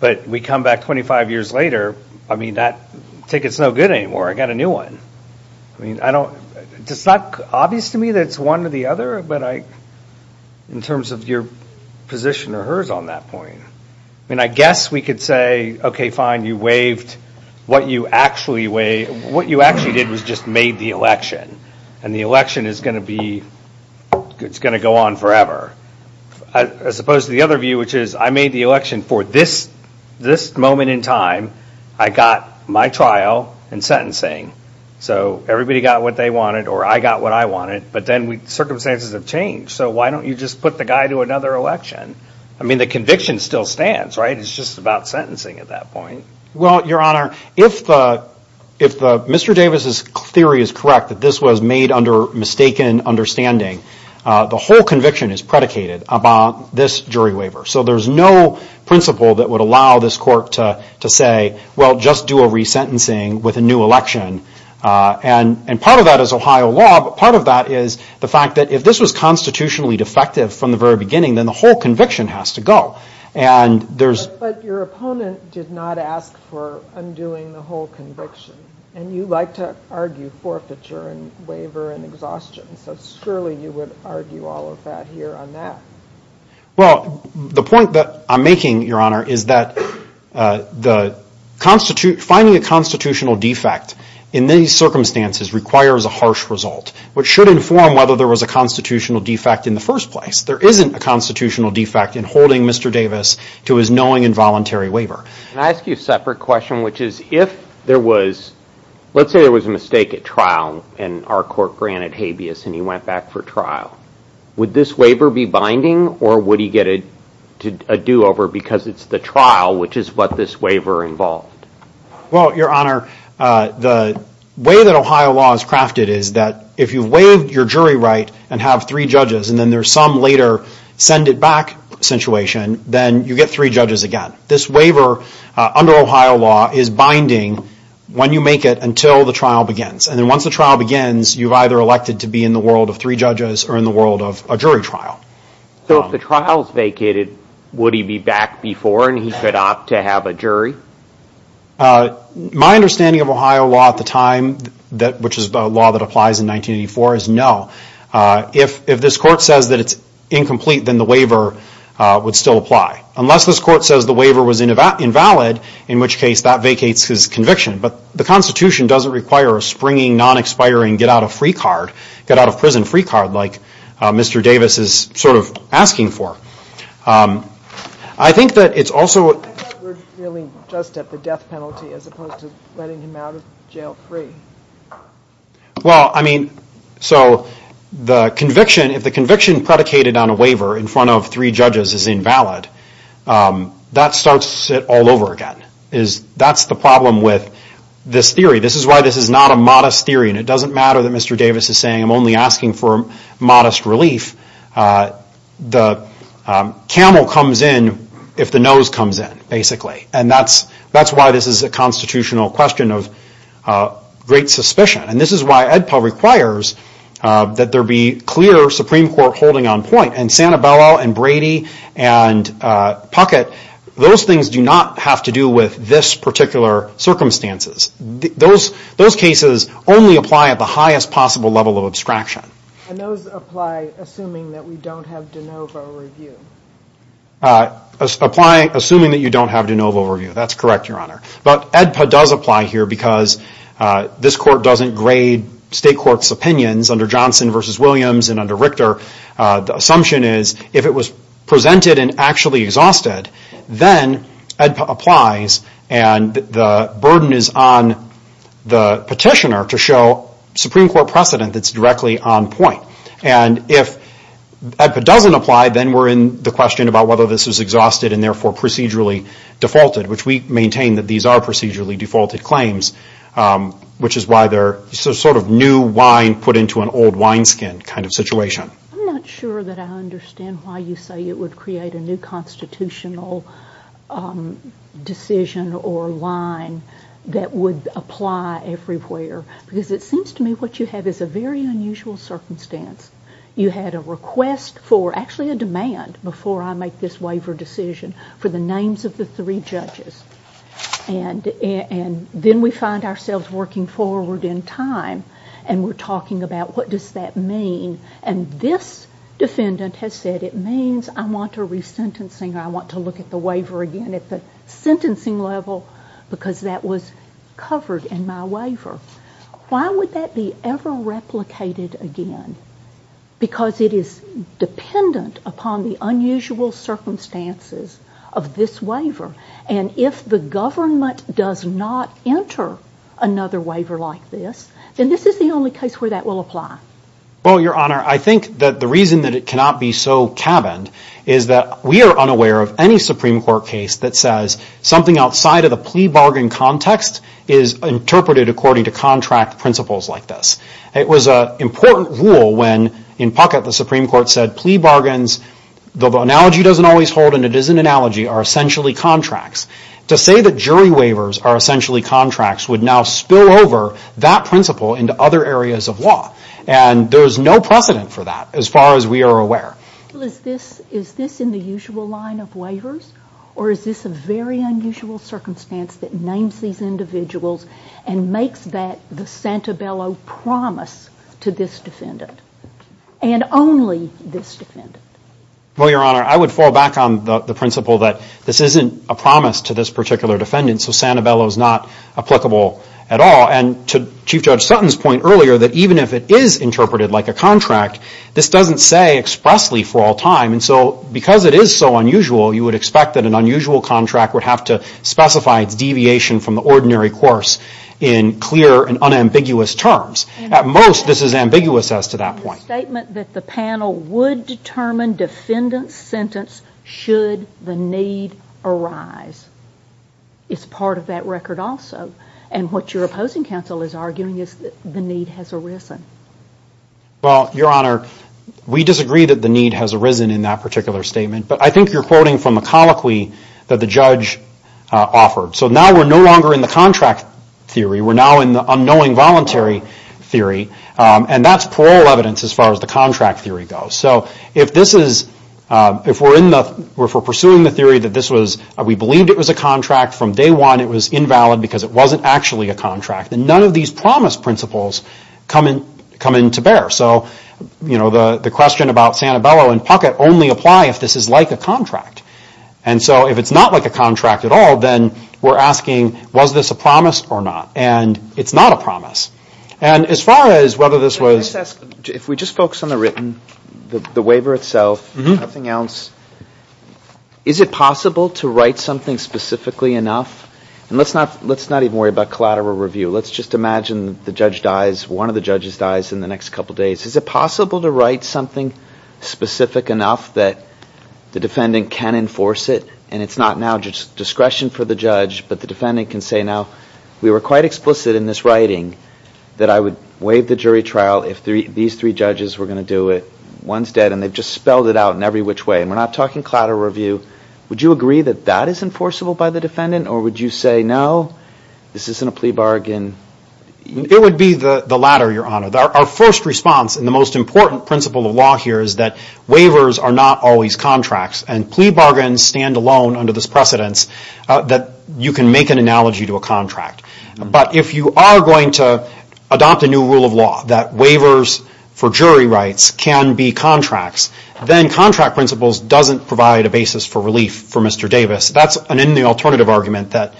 but we come back 25 years later. I mean, that ticket's no good anymore. I got a new one. I mean, I don't, it's not obvious to me that it's one or the other, but I, in terms of your position or hers on that point. I mean, I guess we could say, okay, fine, you waived what you actually, what you actually did was just made the election, and the election is going to be, it's going to go on forever. As opposed to the other view, which is I made the election for this moment in time. I got my trial and sentencing. So everybody got what they wanted, or I got what I wanted, but then circumstances have changed. So why don't you just put the guy to another election? I mean, the conviction still stands, right? It's just about sentencing at that point. Well, Your Honor, if Mr. Davis's theory is correct, that this was made under mistaken understanding, the whole conviction is predicated upon this jury waiver. So there's no principle that would allow this court to say, well, just do a resentencing with a new election. And part of that is Ohio law, but part of that is the fact that if this was constitutionally defective from the very beginning, then the whole conviction has to go. But your opponent did not ask for undoing the whole conviction, and you like to argue forfeiture and waiver and exhaustion. So surely you would argue all of that here on that. Well, the point that I'm making, Your Honor, is that finding a constitutional defect in these circumstances requires a harsh result, which should inform whether there was a constitutional defect in the first place. There isn't a constitutional defect in holding Mr. Davis to his knowing involuntary waiver. Can I ask you a separate question, which is if there was, let's say there was a mistake at trial and our court granted habeas and he went back for trial, would this waiver be binding or would he get a do-over because it's the trial which is what this waiver involved? Well, Your Honor, the way that Ohio law is crafted is that if you waive your jury right and have three judges and then there's some later send-it-back situation, then you get three judges again. This waiver under Ohio law is binding when you make it until the trial begins. And then once the trial begins, you've either elected to be in the world of three judges or in the world of a jury trial. So if the trial is vacated, would he be back before and he could opt to have a jury? My understanding of Ohio law at the time, which is the law that applies in 1984, is no. If this court says that it's incomplete, then the waiver would still apply. Unless this court says the waiver was invalid, in which case that vacates his conviction. But the Constitution doesn't require a springing, non-expiring, get-out-of-prison free card like Mr. Davis is sort of asking for. I think that it's also... I thought we were dealing just at the death penalty as opposed to letting him out of jail free. Well, I mean, so the conviction, if the conviction predicated on a waiver in front of three judges is invalid, that starts it all over again. That's the problem with this theory. This is why this is not a modest theory, and it doesn't matter that Mr. Davis is saying I'm only asking for modest relief. The camel comes in if the nose comes in, basically. And that's why this is a constitutional question of great suspicion. And this is why AEDPA requires that there be clear Supreme Court holding on point. And Santabella and Brady and Puckett, those things do not have to do with this particular circumstances. Those cases only apply at the highest possible level of abstraction. And those apply assuming that we don't have de novo review. Assuming that you don't have de novo review. That's correct, Your Honor. But AEDPA does apply here because this court doesn't grade state courts' opinions under Johnson v. Williams and under Richter. The assumption is if it was presented and actually exhausted, then AEDPA applies, and the burden is on the petitioner to show Supreme Court precedent that's directly on point. And if AEDPA doesn't apply, then we're in the question about whether this is exhausted and therefore procedurally defaulted, which we maintain that these are procedurally defaulted claims, which is why they're sort of new wine put into an old wineskin kind of situation. I'm not sure that I understand why you say it would create a new constitutional decision or line that would apply everywhere. Because it seems to me what you have is a very unusual circumstance. You had a request for, actually a demand before I make this waiver decision, for the names of the three judges. And then we find ourselves working forward in time, and we're talking about what does that mean. And this defendant has said it means I want a re-sentencing or I want to look at the waiver again at the sentencing level because that was covered in my waiver. Why would that be ever replicated again? Because it is dependent upon the unusual circumstances of this waiver. And if the government does not enter another waiver like this, then this is the only case where that will apply. Well, Your Honor, I think that the reason that it cannot be so cabined is that we are unaware of any Supreme Court case that says something outside of the plea bargain context is interpreted according to contract principles like this. It was an important rule when in Puckett the Supreme Court said plea bargains, the analogy doesn't always hold and it is an analogy, are essentially contracts. To say that jury waivers are essentially contracts would now spill over that principle into other areas of law. And there's no precedent for that as far as we are aware. Is this in the usual line of waivers or is this a very unusual circumstance that names these individuals and makes that the Santabello promise to this defendant and only this defendant? Well, Your Honor, I would fall back on the principle that this isn't a promise to this particular defendant so Santabello is not applicable at all. And to Chief Judge Sutton's point earlier that even if it is interpreted like a contract, this doesn't say expressly for all time and so because it is so unusual, you would expect that an unusual contract would have to specify its deviation from the ordinary course in clear and unambiguous terms. At most, this is ambiguous as to that point. Your statement that the panel would determine defendant's sentence should the need arise is part of that record also. And what your opposing counsel is arguing is that the need has arisen. Well, Your Honor, we disagree that the need has arisen in that particular statement but I think you're quoting from the colloquy that the judge offered. So now we're no longer in the contract theory. We're now in the unknowing voluntary theory and that's parole evidence as far as the contract theory goes. So if we're pursuing the theory that we believed it was a contract from day one, it was invalid because it wasn't actually a contract. And none of these promise principles come into bear. So, you know, the question about Santabello and Puckett only apply if this is like a contract. And so if it's not like a contract at all, then we're asking was this a promise or not? And it's not a promise. And as far as whether this was... Let me just ask, if we just focus on the written, the waiver itself, nothing else, is it possible to write something specifically enough? And let's not even worry about collateral review. Let's just imagine the judge dies, one of the judges dies in the next couple of days. Is it possible to write something specific enough that the defendant can enforce it and it's not now discretion for the judge but the defendant can say, now we were quite explicit in this writing that I would waive the jury trial if these three judges were going to do it. One's dead and they've just spelled it out in every which way. And we're not talking collateral review. Would you agree that that is enforceable by the defendant or would you say, no, this isn't a plea bargain? It would be the latter, Your Honor. Our first response, and the most important principle of law here, is that waivers are not always contracts. And plea bargains stand alone under this precedence that you can make an analogy to a contract. But if you are going to adopt a new rule of law that waivers for jury rights can be contracts, then contract principles doesn't provide a basis for relief for Mr. Davis. That's an in the alternative argument that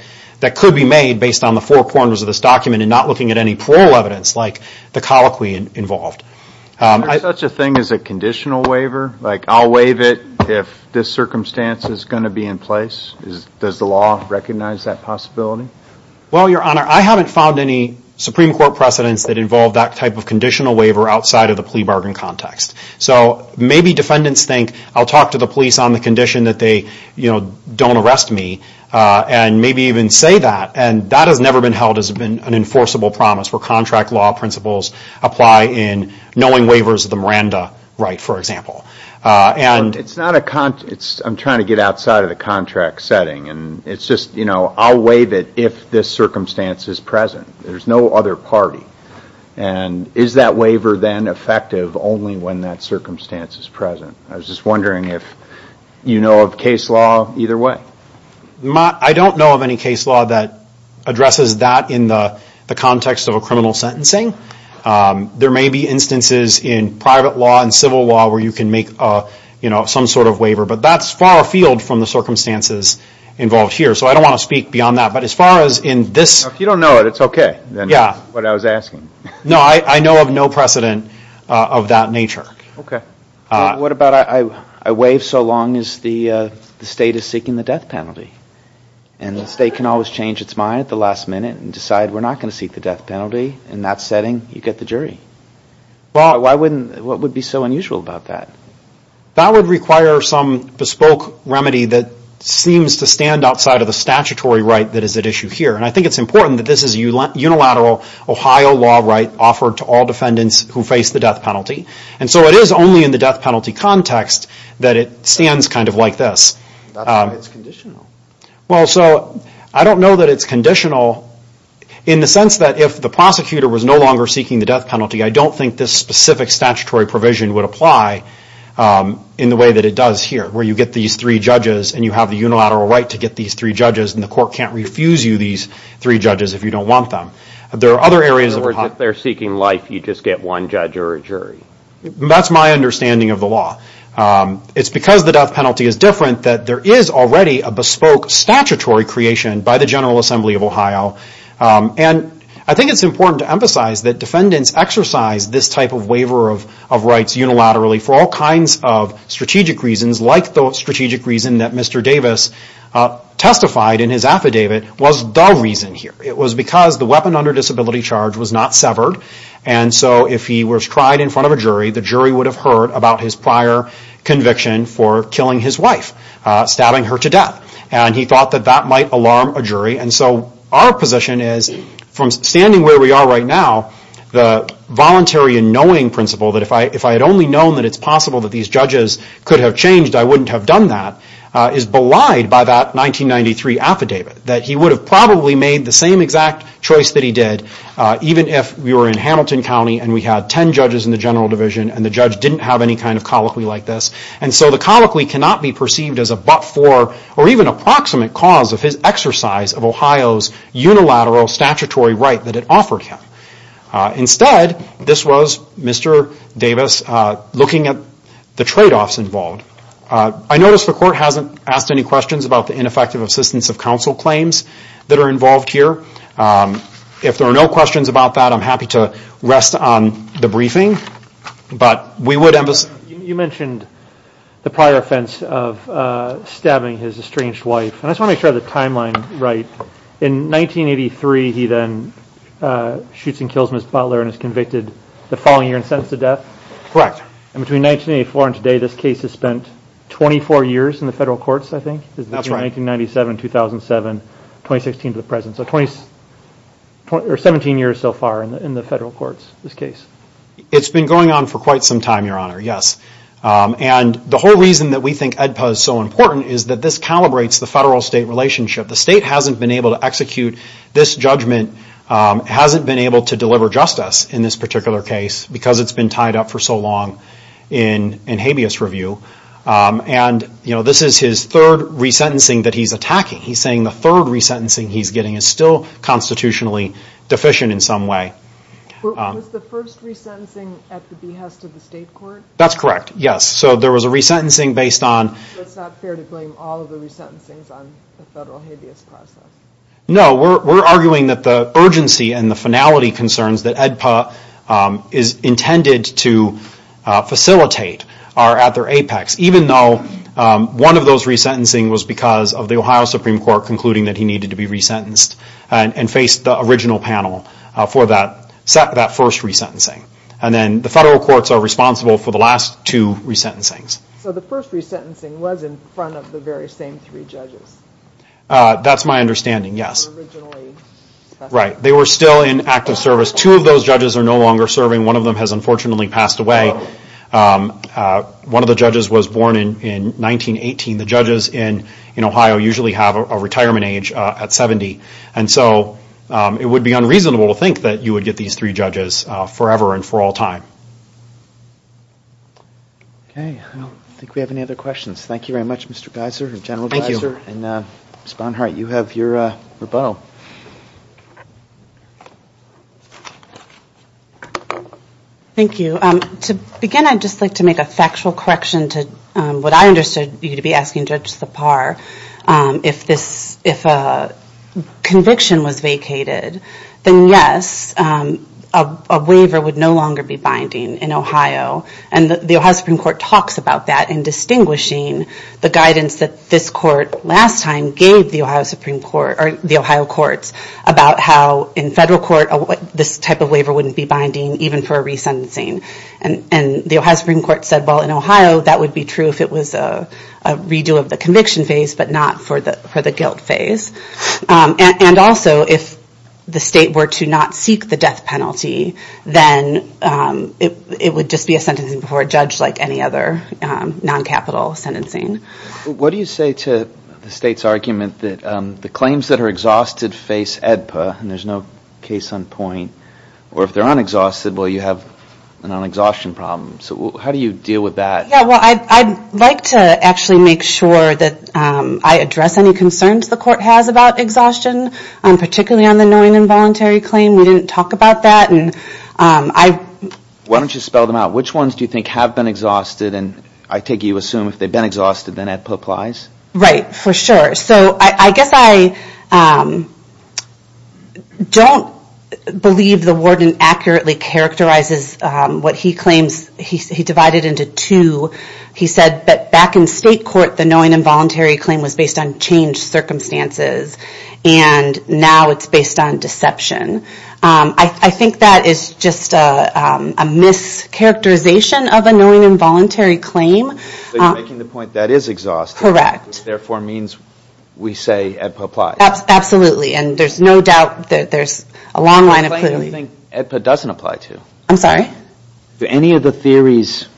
could be made based on the four corners of this document and not looking at any plural evidence like the colloquy involved. Is there such a thing as a conditional waiver? Like, I'll waive it if this circumstance is going to be in place? Does the law recognize that possibility? Well, Your Honor, I haven't found any Supreme Court precedence that involve that type of conditional waiver outside of the plea bargain context. So maybe defendants think, I'll talk to the police on the condition that they don't arrest me and maybe even say that. And that has never been held as an enforceable promise where contract law principles apply in knowing waivers of the Miranda right, for example. I'm trying to get outside of the contract setting. It's just, you know, I'll waive it if this circumstance is present. There's no other party. And is that waiver then effective only when that circumstance is present? I was just wondering if you know of case law either way? I don't know of any case law that addresses that in the context of a criminal sentencing. There may be instances in private law and civil law where you can make some sort of waiver. But that's far afield from the circumstances involved here. So I don't want to speak beyond that. If you don't know it, it's okay. That's what I was asking. No, I know of no precedent of that nature. What about I waive so long as the state is seeking the death penalty and the state can always change its mind at the last minute and decide we're not going to seek the death penalty. In that setting, you get the jury. What would be so unusual about that? That would require some bespoke remedy that seems to stand outside of the statutory right that is at issue here. And I think it's important that this is a unilateral Ohio law right offered to all defendants who face the death penalty. And so it is only in the death penalty context that it stands kind of like this. That's why it's conditional. I don't know that it's conditional in the sense that if the prosecutor was no longer seeking the death penalty, I don't think this specific statutory provision would apply in the way that it does here, where you get these three judges and you have the unilateral right to get these three judges and the court can't refuse you these three judges if you don't want them. In other words, if they're seeking life, you just get one judge or a jury. That's my understanding of the law. It's because the death penalty is different that there is already a bespoke statutory creation by the General Assembly of Ohio. And I think it's important to emphasize that defendants exercise this type of waiver of rights unilaterally for all kinds of strategic reasons, like the strategic reason that Mr. Davis testified in his affidavit was the reason here. It was because the weapon under disability charge was not severed. And so if he was tried in front of a jury, the jury would have heard about his prior conviction for killing his wife, stabbing her to death. And he thought that that might alarm a jury. And so our position is, from standing where we are right now, the voluntary and knowing principle, that if I had only known that it's possible that these judges could have changed, I wouldn't have done that, is belied by that 1993 affidavit, that he would have probably made the same exact choice that he did even if we were in Hamilton County and we had ten judges in the general division and the judge didn't have any kind of colloquy like this. And so the colloquy cannot be perceived as a but-for or even approximate cause of his exercise of Ohio's unilateral statutory right that it offered him. Instead, this was Mr. Davis looking at the trade-offs involved. I notice the court hasn't asked any questions about the ineffective assistance of counsel claims that are involved here. If there are no questions about that, I'm happy to rest on the briefing. You mentioned the prior offense of stabbing his estranged wife. And I just want to make sure I have the timeline right. In 1983, he then shoots and kills Ms. Butler and is convicted the following year and sentenced to death? And between 1984 and today, this case has spent 24 years in the federal courts, I think? That's right. Between 1997, 2007, 2016 to the present. So 17 years so far in the federal courts, this case. It's been going on for quite some time, Your Honor, yes. And the whole reason that we think AEDPA is so important is that this calibrates the federal-state relationship. The state hasn't been able to execute this judgment, hasn't been able to deliver justice in this particular case because it's been tied up for so long in habeas review. And this is his third resentencing that he's attacking. He's saying the third resentencing he's getting is still constitutionally deficient in some way. Was the first resentencing at the behest of the state court? That's correct, yes. So there was a resentencing based on... No, we're arguing that the urgency and the finality concerns that AEDPA is intended to facilitate are at their apex, even though one of those resentencing was because of the Ohio Supreme Court concluding that he needed to be resentenced and faced the original panel for that first resentencing. And then the federal courts are responsible for the last two resentencings. So the first resentencing was in front of the very same three judges? That's my understanding, yes. Right, they were still in active service. Two of those judges are no longer serving. One of them has unfortunately passed away. One of the judges was born in 1918. The judges in Ohio usually have a retirement age at 70. And so it would be unreasonable to think that you would get these three judges forever and for all time. Okay, I don't think we have any other questions. Thank you very much, Mr. Geiser and General Geiser. And Ms. Bonhart, you have your rebuttal. Thank you. To begin, I'd just like to make a factual correction to what I understood you to be asking Judge Sipar. If a conviction was vacated, then yes, a waiver would no longer be binding in Ohio. And the Ohio Supreme Court talks about that in distinguishing the guidance that this court last time gave the Ohio courts about how in federal court this type of waiver wouldn't be binding, even for a resentencing. And the Ohio Supreme Court said, well, in Ohio, that would be true if it was a redo of the conviction phase, but not for the guilt phase. And also, if the state were to not seek the death penalty, then it would just be a sentencing before a judge like any other non-capital sentencing. What do you say to the state's argument that the claims that are exhausted face AEDPA, and there's no case on point, or if they're unexhausted, well, you have an unexhaustion problem. So how do you deal with that? Yeah, well, I'd like to actually make sure that I address any concerns the court has about exhaustion, particularly on the knowing involuntary claim. We didn't talk about that. Why don't you spell them out? Which ones do you think have been exhausted? And I take it you assume if they've been exhausted, then AEDPA applies? Right, for sure. So I guess I don't believe the warden accurately characterizes what he claims. He divided it into two. He said that back in state court, the knowing involuntary claim was based on changed circumstances, and now it's based on deception. I think that is just a mischaracterization of a knowing involuntary claim. So you're making the point that is exhausted. Correct. Which therefore means we say AEDPA applies. Absolutely. And there's no doubt that there's a long line of claims. What do you think AEDPA doesn't apply to? I'm sorry? Are any of the theories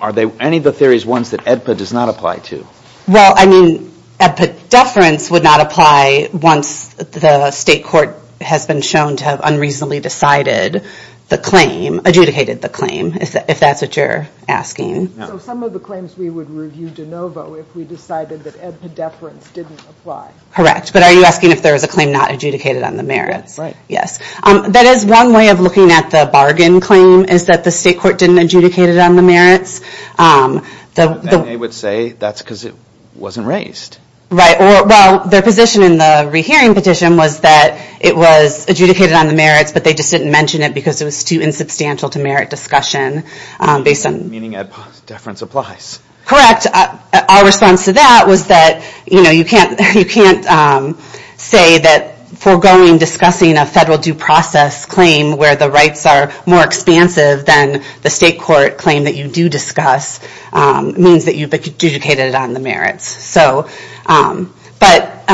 ones that AEDPA does not apply to? Well, I mean, AEDPA deference would not apply once the state court has been shown to have unreasonably decided the claim, adjudicated the claim, if that's what you're asking. So some of the claims we would review de novo if we decided that AEDPA deference didn't apply. Correct. But are you asking if there is a claim not adjudicated on the merits? That's right. Yes. That is one way of looking at the bargain claim, is that the state court didn't adjudicate it on the merits. And they would say that's because it wasn't raised. Right. Well, their position in the rehearing petition was that it was adjudicated on the merits, but they just didn't mention it because it was too insubstantial to merit discussion. Meaning AEDPA deference applies. Correct. Our response to that was that, you know, you can't say that foregoing discussing a federal due process claim where the rights are more expansive than the state court claim that you do discuss means that you've adjudicated it on the merits. So back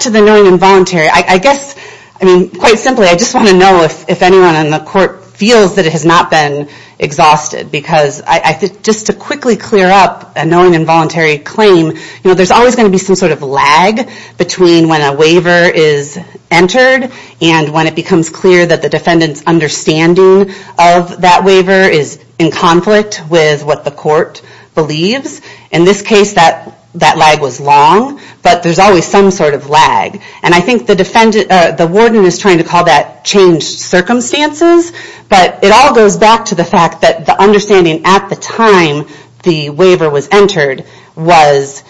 to the knowing involuntary. I guess, I mean, quite simply, I just want to know if anyone in the court feels that it has not been exhausted. Because I think just to quickly clear up a knowing involuntary claim, you know, there's always going to be some sort of lag between when a waiver is entered and when it becomes clear that the defendant's understanding of that waiver is in conflict with what the court believes. In this case, that lag was long, but there's always some sort of lag. And I think the warden is trying to call that changed circumstances, but it all goes back to the fact that the understanding at the time the waiver was entered was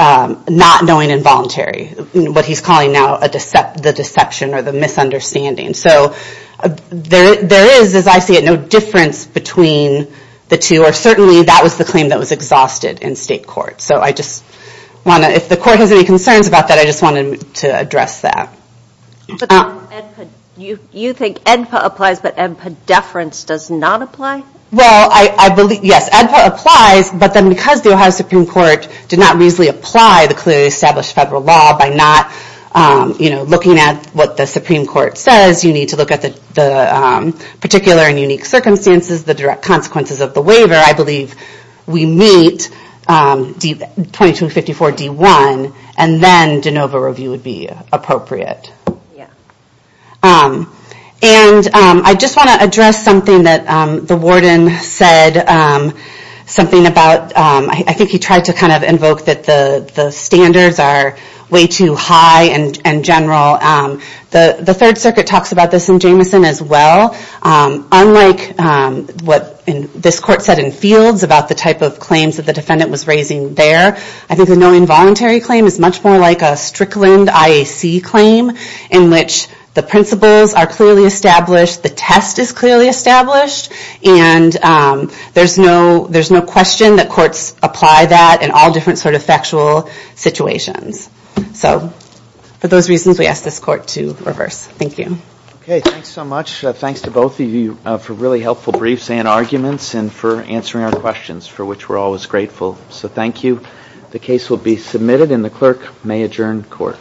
not knowing involuntary, what he's calling now the deception or the misunderstanding. So there is, as I see it, no difference between the two, or certainly that was the claim that was exhausted in state court. So I just want to, if the court has any concerns about that, I just wanted to address that. You think ENPA applies, but ENPA deference does not apply? Well, I believe, yes, ENPA applies, but then because the Ohio Supreme Court did not reasonably apply the clearly established federal law by not, you know, looking at what the Supreme Court says, you need to look at the particular and unique circumstances, the direct consequences of the waiver. I believe we meet 2254 D1, and then de novo review would be appropriate. And I just want to address something that the warden said, something about, I think he tried to kind of invoke that the standards are way too high and general. The Third Circuit talks about this in Jameson as well. Unlike what this court said in Fields about the type of claims that the defendant was raising there, I think the no involuntary claim is much more like a Strickland IAC claim in which the principles are clearly established, the test is clearly established, and there's no question that courts apply that in all different sort of factual situations. So for those reasons, we ask this court to reverse. Thank you. Okay, thanks so much. Thanks to both of you for really helpful briefs and arguments and for answering our questions, for which we're always grateful. So thank you. The case will be submitted, and the clerk may adjourn court.